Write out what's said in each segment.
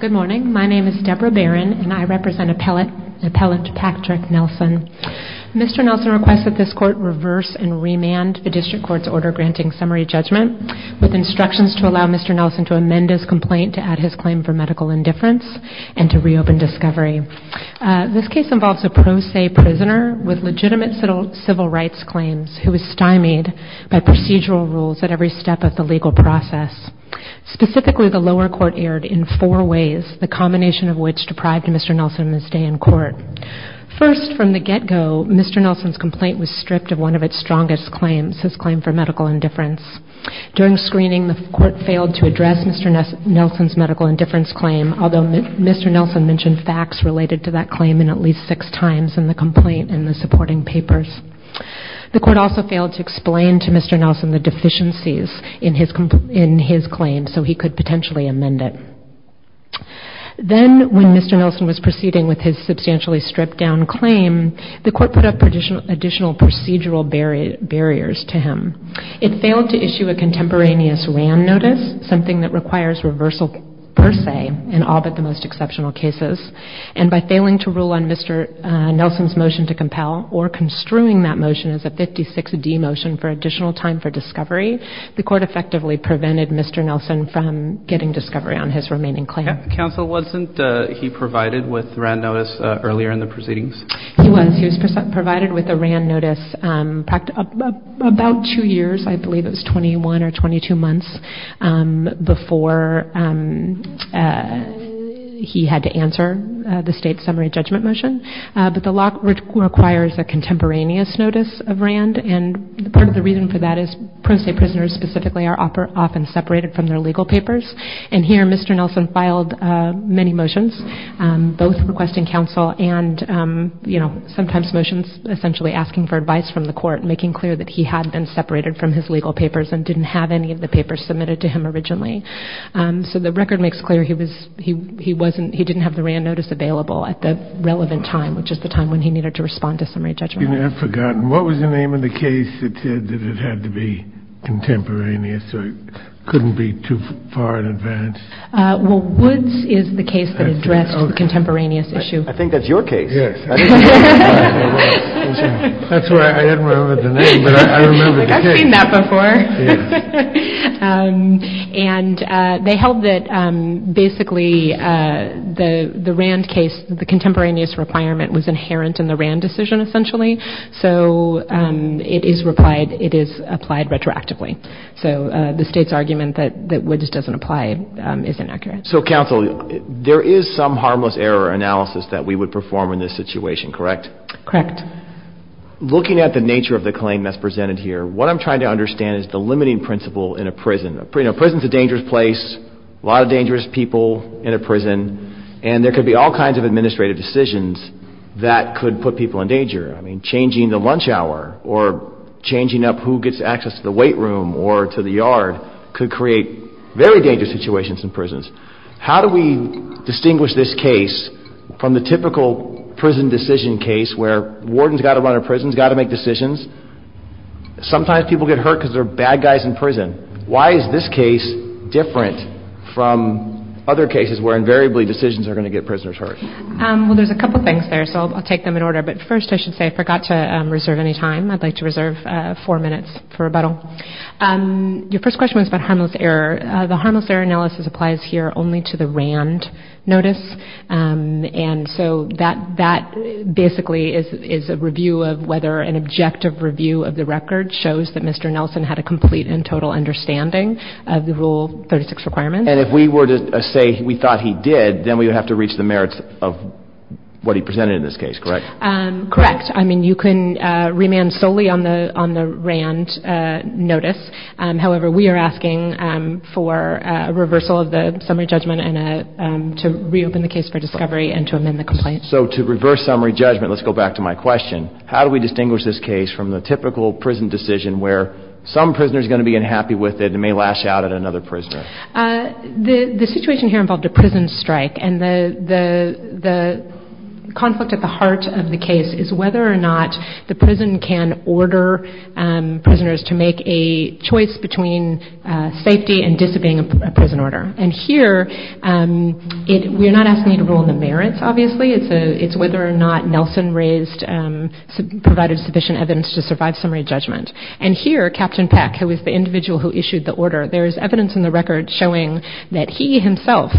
Good morning, my name is Deborah Barron and I represent Appellate Patrick Nelson. Mr. Nelson requests that this Court reverse and remand the District Court's order granting summary judgment with instructions to allow Mr. Nelson to amend his complaint to add his claim for medical indifference and to reopen discovery. This case involves a pro se prisoner with legitimate civil rights claims who is stymied by procedural rules at every step of the legal process. Specifically, the lower court erred in four ways, the combination of which deprived Mr. Nelson of his stay in court. First, from the get-go, Mr. Nelson's complaint was stripped of one of its strongest claims, his claim for medical indifference. During screening, the Court failed to address Mr. Nelson's medical indifference claim, although Mr. Nelson mentioned facts related to that claim at least six times in the complaint and the supporting papers. The Court also failed to explain to Mr. Nelson the deficiencies in his claim so he could potentially amend it. Then, when Mr. Nelson was proceeding with his substantially stripped down claim, the Court put up additional procedural barriers to him. It failed to issue a contemporaneous ram notice, something that requires reversal per se in all but the most exceptional cases, and by failing to rule on Mr. Nelson's motion to compel or construing that motion as a 56D motion for additional time for discovery, the Court effectively prevented Mr. Nelson from getting discovery on his remaining claim. Counsel, wasn't he provided with ram notice earlier in the proceedings? He was. He was provided with a ram notice about two years, I believe it was 21 or 22 months, before he had to answer the state summary judgment motion, but the law requires a contemporaneous notice of ram, and part of the reason for that is pro se prisoners specifically are often separated from their legal papers, and here Mr. Nelson filed many motions, both requesting counsel and, you know, sometimes motions essentially asking for advice from the Court, making clear that he had been separated from his legal papers and didn't have any of the papers submitted to him originally. So the record makes clear he didn't have the ram notice available at the relevant time, which is the time when he needed to respond to summary judgment. I've forgotten. What was the name of the case that said that it had to be contemporaneous or couldn't be too far in advance? Well, Woods is the case that addressed the contemporaneous issue. I think that's your case. That's right. I didn't remember the name, but I remember the case. I've seen that before. And they held that basically the ram case, the contemporaneous requirement was inherent in the ram decision essentially, so it is applied retroactively. So the State's argument that Woods doesn't apply is inaccurate. So counsel, there is some harmless error analysis that we would perform in this situation, correct? Correct. Looking at the nature of the claim that's presented here, what I'm trying to understand is the limiting principle in a prison. You know, prison's a dangerous place, a lot of dangerous people in a prison, and there could be all kinds of administrative decisions that could put people in danger. I mean, changing the lunch hour or changing up who gets access to the weight room or to the yard could create very dangerous situations in prisons. How do we distinguish this case from the typical prison decision case where warden's got to run a prison, warden's got to make decisions? Sometimes people get hurt because they're bad guys in prison. Why is this case different from other cases where invariably decisions are going to get prisoners hurt? Well, there's a couple things there, so I'll take them in order, but first I should say I forgot to reserve any time. I'd like to reserve four minutes for rebuttal. Your first question was about harmless error. The harmless error analysis applies here only to the RAND notice, and so that basically is a review of whether an objective review of the record shows that Mr. Nelson had a complete and total understanding of the Rule 36 requirements. And if we were to say we thought he did, then we would have to reach the merits of what he presented in this case, correct? Correct. I mean, you can remand solely on the RAND notice. However, we are asking for a reversal of the summary judgment and to reopen the case for discovery and to amend the complaint. So to reverse summary judgment, let's go back to my question. How do we distinguish this case from the typical prison decision where some prisoner's going to be unhappy with it and may lash out at another prisoner? The situation here involved a prison strike, and the conflict at the heart of the case is whether or not the prison can order prisoners to make a choice between safety and disobeying a prison order. And here, we're not asking you to rule on the merits, obviously. It's whether or not Nelson provided sufficient evidence to survive summary judgment. And here, Captain Peck, who is the individual who issued the order, there is evidence in the record showing that he himself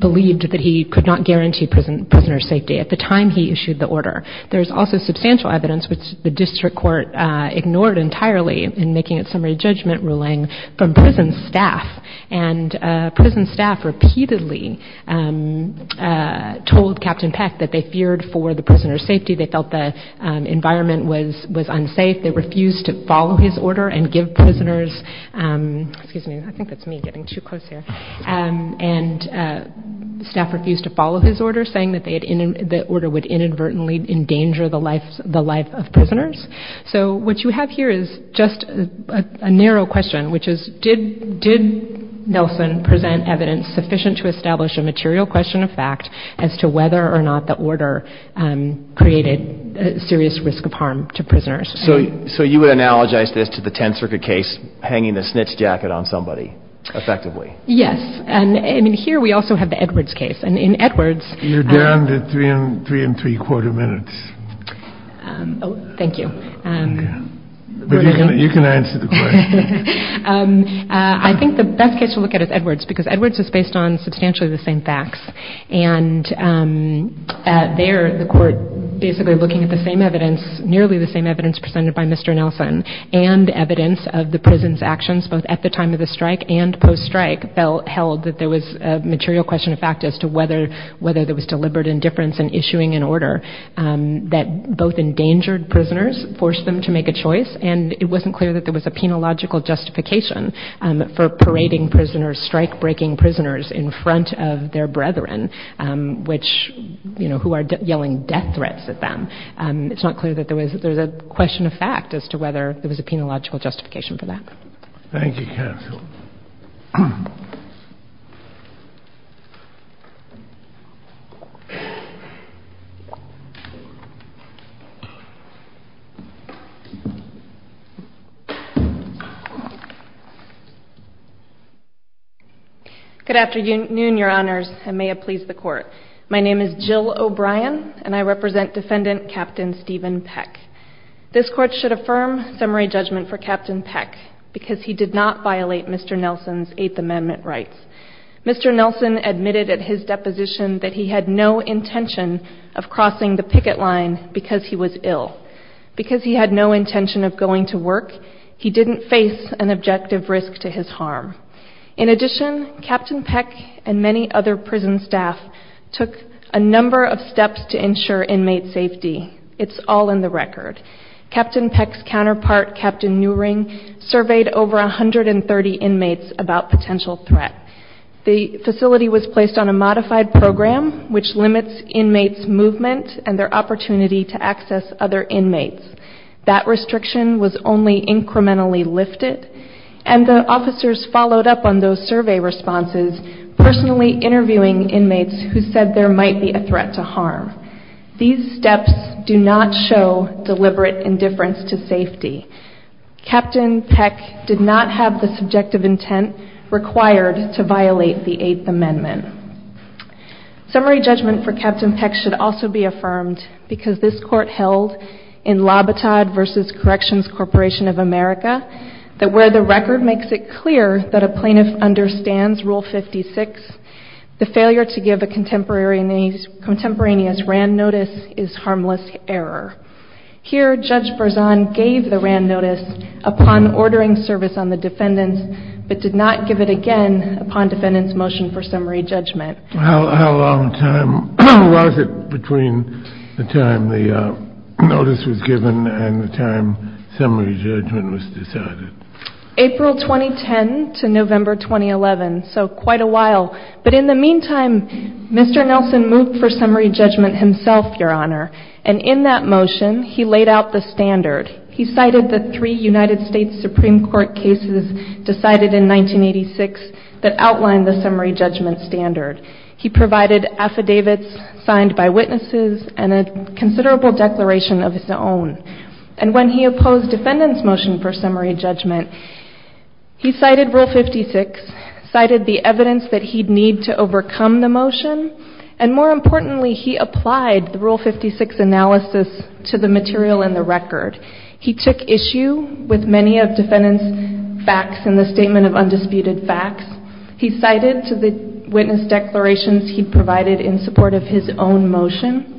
believed that he could not guarantee prisoner safety at the time he issued the order. There's also substantial evidence, which the district court ignored entirely in making its summary judgment ruling, from prison staff. And prison staff repeatedly told Captain Peck that they feared for the prisoner's safety. They felt the environment was unsafe. They refused to follow his order and give prisoners, excuse me, I think that's me getting too close here, and staff refused to follow his order, saying that the order would inadvertently endanger the life of prisoners. So what you have here is just a narrow question, which is did Nelson present evidence sufficient to establish a material question of fact as to whether or not the order created serious risk of harm to prisoners? So you would analogize this to the Tenth Circuit case, hanging the snitch jacket on somebody, effectively. Yes. And here, we also have the Edwards case. You're down to three and three-quarter minutes. Thank you. You can answer the question. I think the best case to look at is Edwards, because Edwards is based on substantially the same facts. And there, the court basically looking at the same evidence, nearly the same evidence presented by Mr. Nelson, and evidence of the prison's actions, both at the time of the strike and post-strike, held that there was a material question of fact as to whether there was deliberate indifference in issuing an order that both endangered prisoners, forced them to make a choice, and it wasn't clear that there was a penological justification for parading prisoners, strike-breaking prisoners in front of their brethren, who are yelling death threats at them. It's not clear that there was a question of fact as to whether there was a penological justification for that. Thank you, counsel. Good afternoon, Your Honors, and may it please the Court. My name is Jill O'Brien, and I represent Defendant Captain Stephen Peck. This Court should affirm summary judgment for Captain Peck, because he did not violate Mr. Nelson's Eighth Amendment rights. Mr. Nelson admitted at his deposition that he had no intention of crossing the picket line because he was ill. Because he had no intention of going to work, he didn't face an objective risk to his harm. In addition, Captain Peck, and many other prison staff, took a number of steps to ensure inmate safety. It's all in the record. Captain Peck's counterpart, Captain Neuring, surveyed over 130 inmates about potential threat. The facility was placed on a modified program, which limits inmates' movement and their opportunity to access other inmates. That restriction was only incrementally lifted, and the officers followed up on those survey responses, personally interviewing inmates who said there might be a threat to harm. These steps do not show deliberate indifference to safety. Captain Peck did not have the subjective intent required to violate the Eighth Amendment. Summary judgment for Captain Peck should also be affirmed, because this Court held in Labattad v. Corrections Corporation of America, that where the record makes it clear that a plaintiff understands Rule 56, the failure to give a contemporaneous RAND notice is harmless error. Here, Judge Berzon gave the RAND notice upon ordering service on the defendants, but did not give it again upon defendants' motion for summary judgment. How long was it between the time the notice was given and the time summary judgment was decided? April 2010 to November 2011, so quite a while. But in the meantime, Mr. Nelson moved for summary judgment himself, Your Honor, and in that motion he laid out the standard. He cited the three United States Supreme Court cases decided in 1986 that outlined the summary judgment standard. He provided affidavits signed by witnesses and a considerable declaration of his own. And when he opposed defendants' motion for summary judgment, he cited Rule 56, cited the evidence that he'd need to overcome the motion, and more importantly, he applied the Rule 56 analysis to the material in the record. He took issue with many of defendants' facts in the Statement of Undisputed Facts. He cited to the witness declarations he provided in support of his own motion,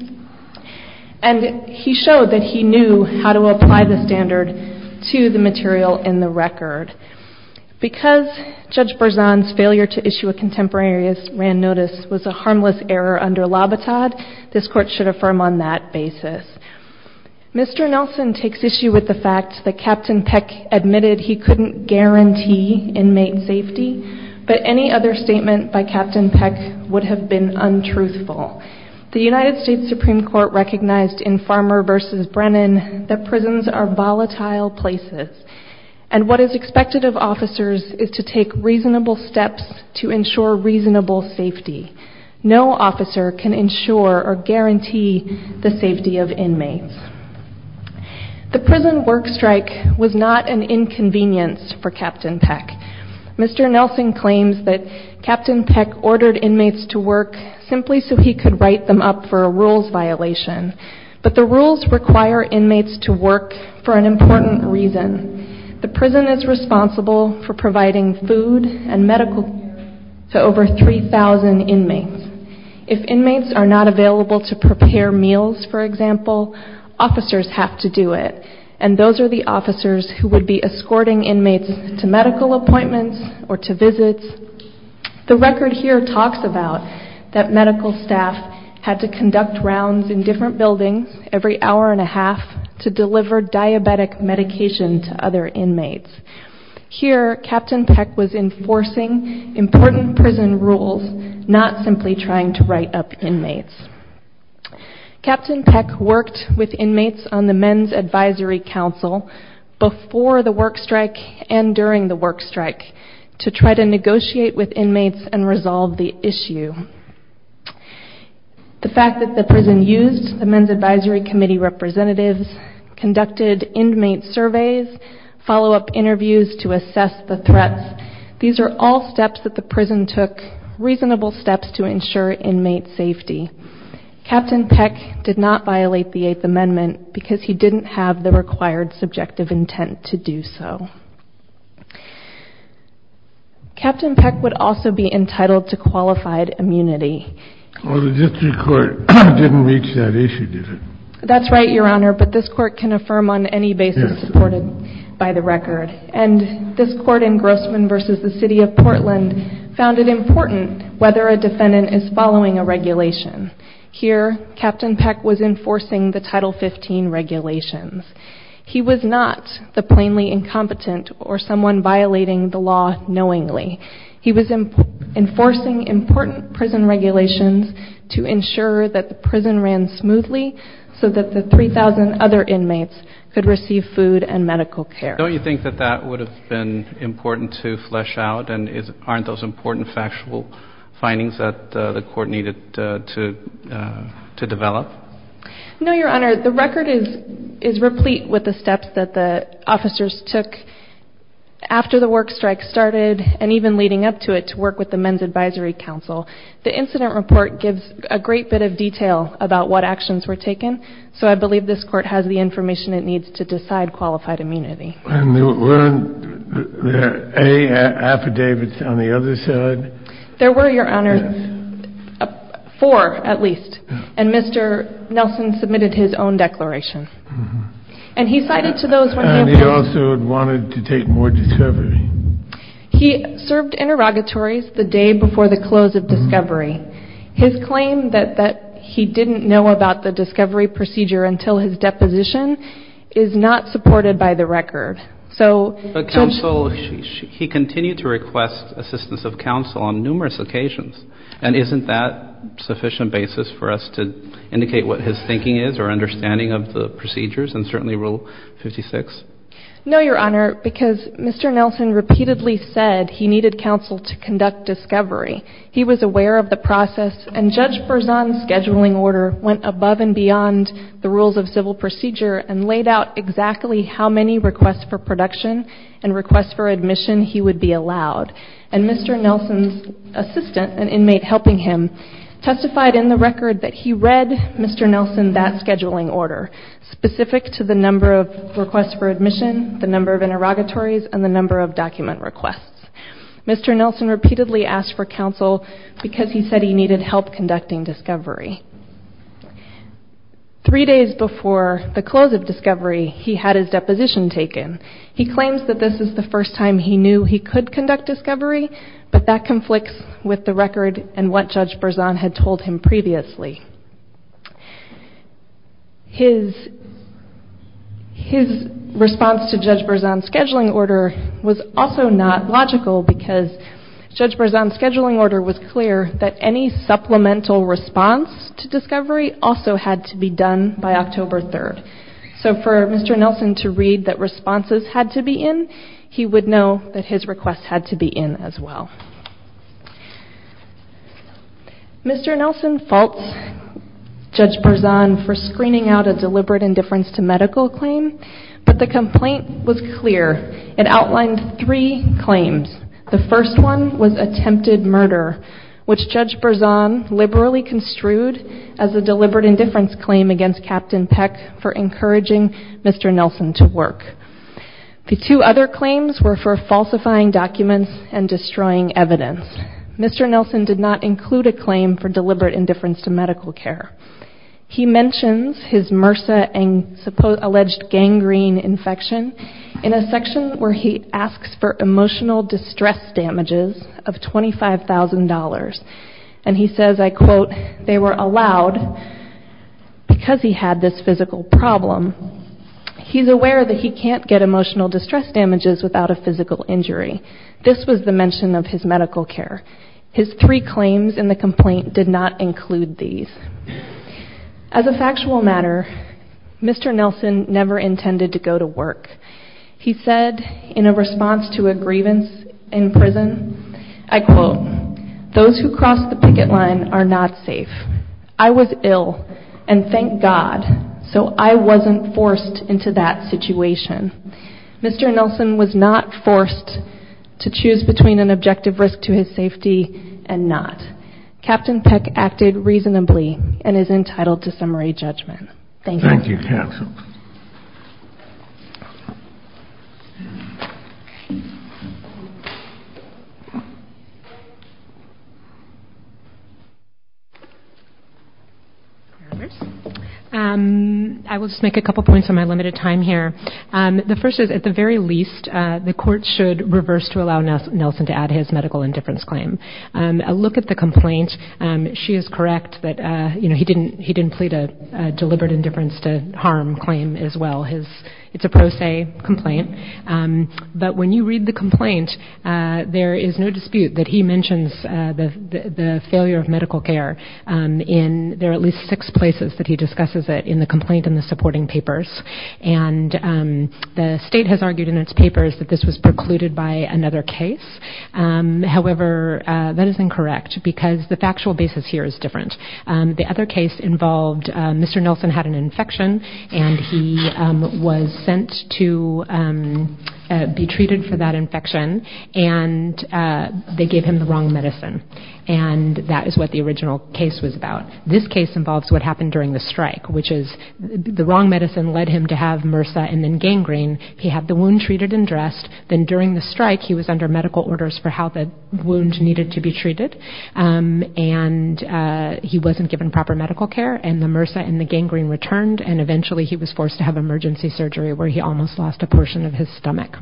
and he showed that he knew how to apply the standard to the material in the record. Because Judge Berzon's failure to issue a contemporaneous Wran notice was a harmless error under Labattad, this Court should affirm on that basis. Mr. Nelson takes issue with the fact that Captain Peck admitted he couldn't guarantee inmate safety, but any other statement by Captain Peck would have been untruthful. The United States Supreme Court recognized in Farmer v. Brennan that prisons are volatile places, and what is expected of officers is to take reasonable steps to ensure reasonable safety. No officer can ensure or guarantee the safety of inmates. The prison work strike was not an inconvenience for Captain Peck. Mr. Nelson claims that Captain Peck ordered inmates to work simply so he could write them up for a rules violation, but the rules require inmates to work for an important reason. The prison is responsible for providing food and medical care to over 3,000 inmates. If inmates are not available to prepare meals, for example, officers have to do it, and those are the officers who would be escorting inmates to medical appointments or to visits. The record here talks about that medical staff had to conduct rounds in different buildings every hour and a half to deliver diabetic medication to other inmates. Here, Captain Peck was enforcing important prison rules, not simply trying to write up inmates. Captain Peck worked with inmates on the Men's Advisory Council before the work strike and during the work strike to try to negotiate with inmates and resolve the issue. The fact that the prison used the Men's Advisory Committee representatives, conducted inmate surveys, follow-up interviews to assess the threats, these are all steps that the prison took, reasonable steps to ensure inmate safety. Captain Peck did not violate the Eighth Amendment Captain Peck would also be entitled to qualified immunity. Oh, the district court didn't reach that issue, did it? That's right, Your Honor, but this court can affirm on any basis supported by the record. And this court in Grossman v. The City of Portland found it important whether a defendant is following a regulation. Here, Captain Peck was enforcing the Title 15 regulations. He was not the plainly incompetent or someone violating the law knowingly. He was enforcing important prison regulations to ensure that the prison ran smoothly so that the 3,000 other inmates could receive food and medical care. Don't you think that that would have been important to flesh out, and aren't those important factual findings that the court needed to develop? No, Your Honor, the record is replete with the steps that the officers took after the work strike started and even leading up to it to work with the Men's Advisory Council. The incident report gives a great bit of detail about what actions were taken, so I believe this court has the information it needs to decide qualified immunity. And were there any affidavits on the other side? There were, Your Honor, four at least, and Mr. Nelson submitted his own declaration. And he cited to those when he opposed... And he also wanted to take more discovery. He served interrogatories the day before the close of discovery. His claim that he didn't know about the discovery procedure until his deposition is not supported by the record. But counsel, he continued to request assistance of counsel on numerous occasions. And isn't that sufficient basis for us to indicate what his thinking is or understanding of the procedures and certainly Rule 56? No, Your Honor, because Mr. Nelson repeatedly said he needed counsel to conduct discovery. He was aware of the process, and Judge Berzon's scheduling order went above and beyond the rules of civil procedure and laid out exactly how many requests for production and requests for admission he would be allowed. And Mr. Nelson's assistant, an inmate helping him, testified in the record that he read Mr. Nelson that scheduling order, specific to the number of requests for admission, the number of interrogatories, and the number of document requests. Mr. Nelson repeatedly asked for counsel because he said he needed help conducting discovery. Three days before the close of discovery, he had his deposition taken. He claims that this is the first time he knew he could conduct discovery, but that conflicts with the record and what Judge Berzon had told him previously. His response to Judge Berzon's scheduling order was also not logical. Because Judge Berzon's scheduling order was clear that any supplemental response to discovery also had to be done by October 3rd. So for Mr. Nelson to read that responses had to be in, he would know that his request had to be in as well. Mr. Nelson faults Judge Berzon for screening out a deliberate indifference to medical claim, but the complaint was clear. It outlined three claims. The first one was attempted murder, which Judge Berzon liberally construed as a deliberate indifference claim against Captain Peck for encouraging Mr. Nelson to work. The two other claims were for falsifying documents and destroying evidence. Mr. Nelson did not include a claim for deliberate indifference to medical care. He mentions his MRSA and alleged gangrene infection in a section where he asks for emotional distress damages of $25,000. And he says, I quote, they were allowed because he had this physical problem. He's aware that he can't get emotional distress damages without a physical injury. This was the mention of his medical care. His three claims in the complaint did not include these. As a factual matter, Mr. Nelson never intended to go to work. He said in a response to a grievance in prison, I quote, those who crossed the picket line are not safe. I was ill and thank God, so I wasn't forced into that situation. Mr. Nelson was not forced to choose between an objective risk to his safety and not. Captain Peck acted reasonably and is entitled to summary judgment. Thank you. Thank you. I will just make a couple of points on my limited time here. The first is at the very least, the court should reverse to allow Nelson to add his medical indifference claim. A look at the complaint, she is correct that he didn't plead a deliberate indifference to harm claim as well. It's a pro se complaint. But when you read the complaint, there is no dispute that he mentions the failure of medical care. There are at least six places that he discusses it in the complaint and the supporting papers. And the state has argued in its papers that this was precluded by another case. However, that is incorrect because the factual basis here is different. The other case involved Mr. Nelson had an infection and he was sent to be treated for that infection. And they gave him the wrong medicine. And that is what the original case was about. This case involves what happened during the strike, which is the wrong medicine led him to have MRSA and gangrene. He had the wound treated and dressed. Then during the strike, he was under medical orders for how the wound needed to be treated. And he wasn't given proper medical care and the MRSA and the gangrene returned. And eventually he was forced to have emergency surgery where he almost lost a portion of his stomach.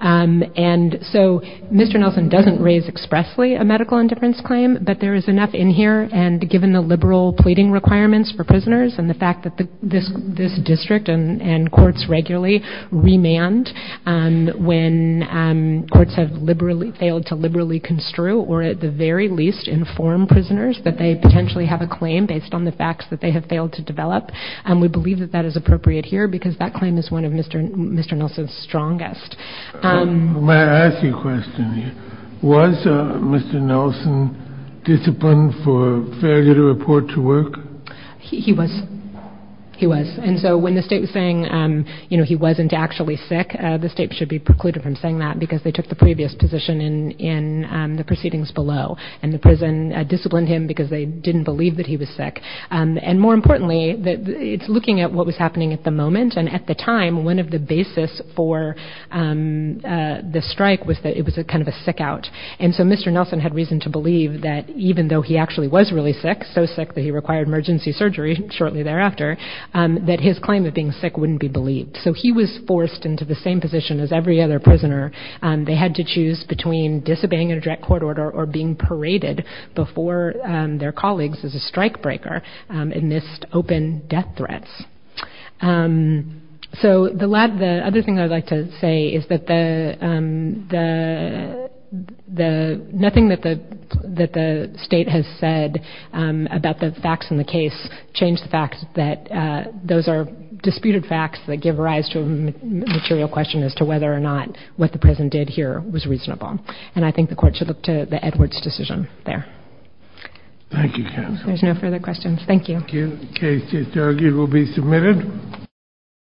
And so Mr. Nelson doesn't raise expressly a medical indifference claim, but there is enough in here. And given the liberal pleading requirements for prisoners and the fact that this district and courts regularly remand when courts have failed to liberally construe or at the very least inform prisoners that they potentially have a claim based on the facts that they have failed to develop. And that is what we have discussed. Was Mr. Nelson disciplined for failure to report to work? He was. And so when the state was saying he wasn't actually sick, the state should be precluded from saying that because they took the previous position in the proceedings below. And the prison disciplined him because they didn't believe that he was sick. And more importantly, it's looking at what was happening at the moment. And at the time, one of the basis for the strike was that it was kind of a sick out. And so Mr. Nelson had reason to believe that even though he actually was really sick, so sick that he required emergency surgery shortly thereafter, that his claim of being sick wouldn't be believed. So he was forced into the same position as every other prisoner. They had to choose between disobeying a direct court order or being paraded before their colleagues as a strike breaker and missed open death threats. So the other thing I would like to say is that the nothing that the state has said about the facts in the case change the fact that those are disputed facts that give rise to a material question as to whether or not what the prison did here was reasonable. And I think the court should look to the Edwards decision there.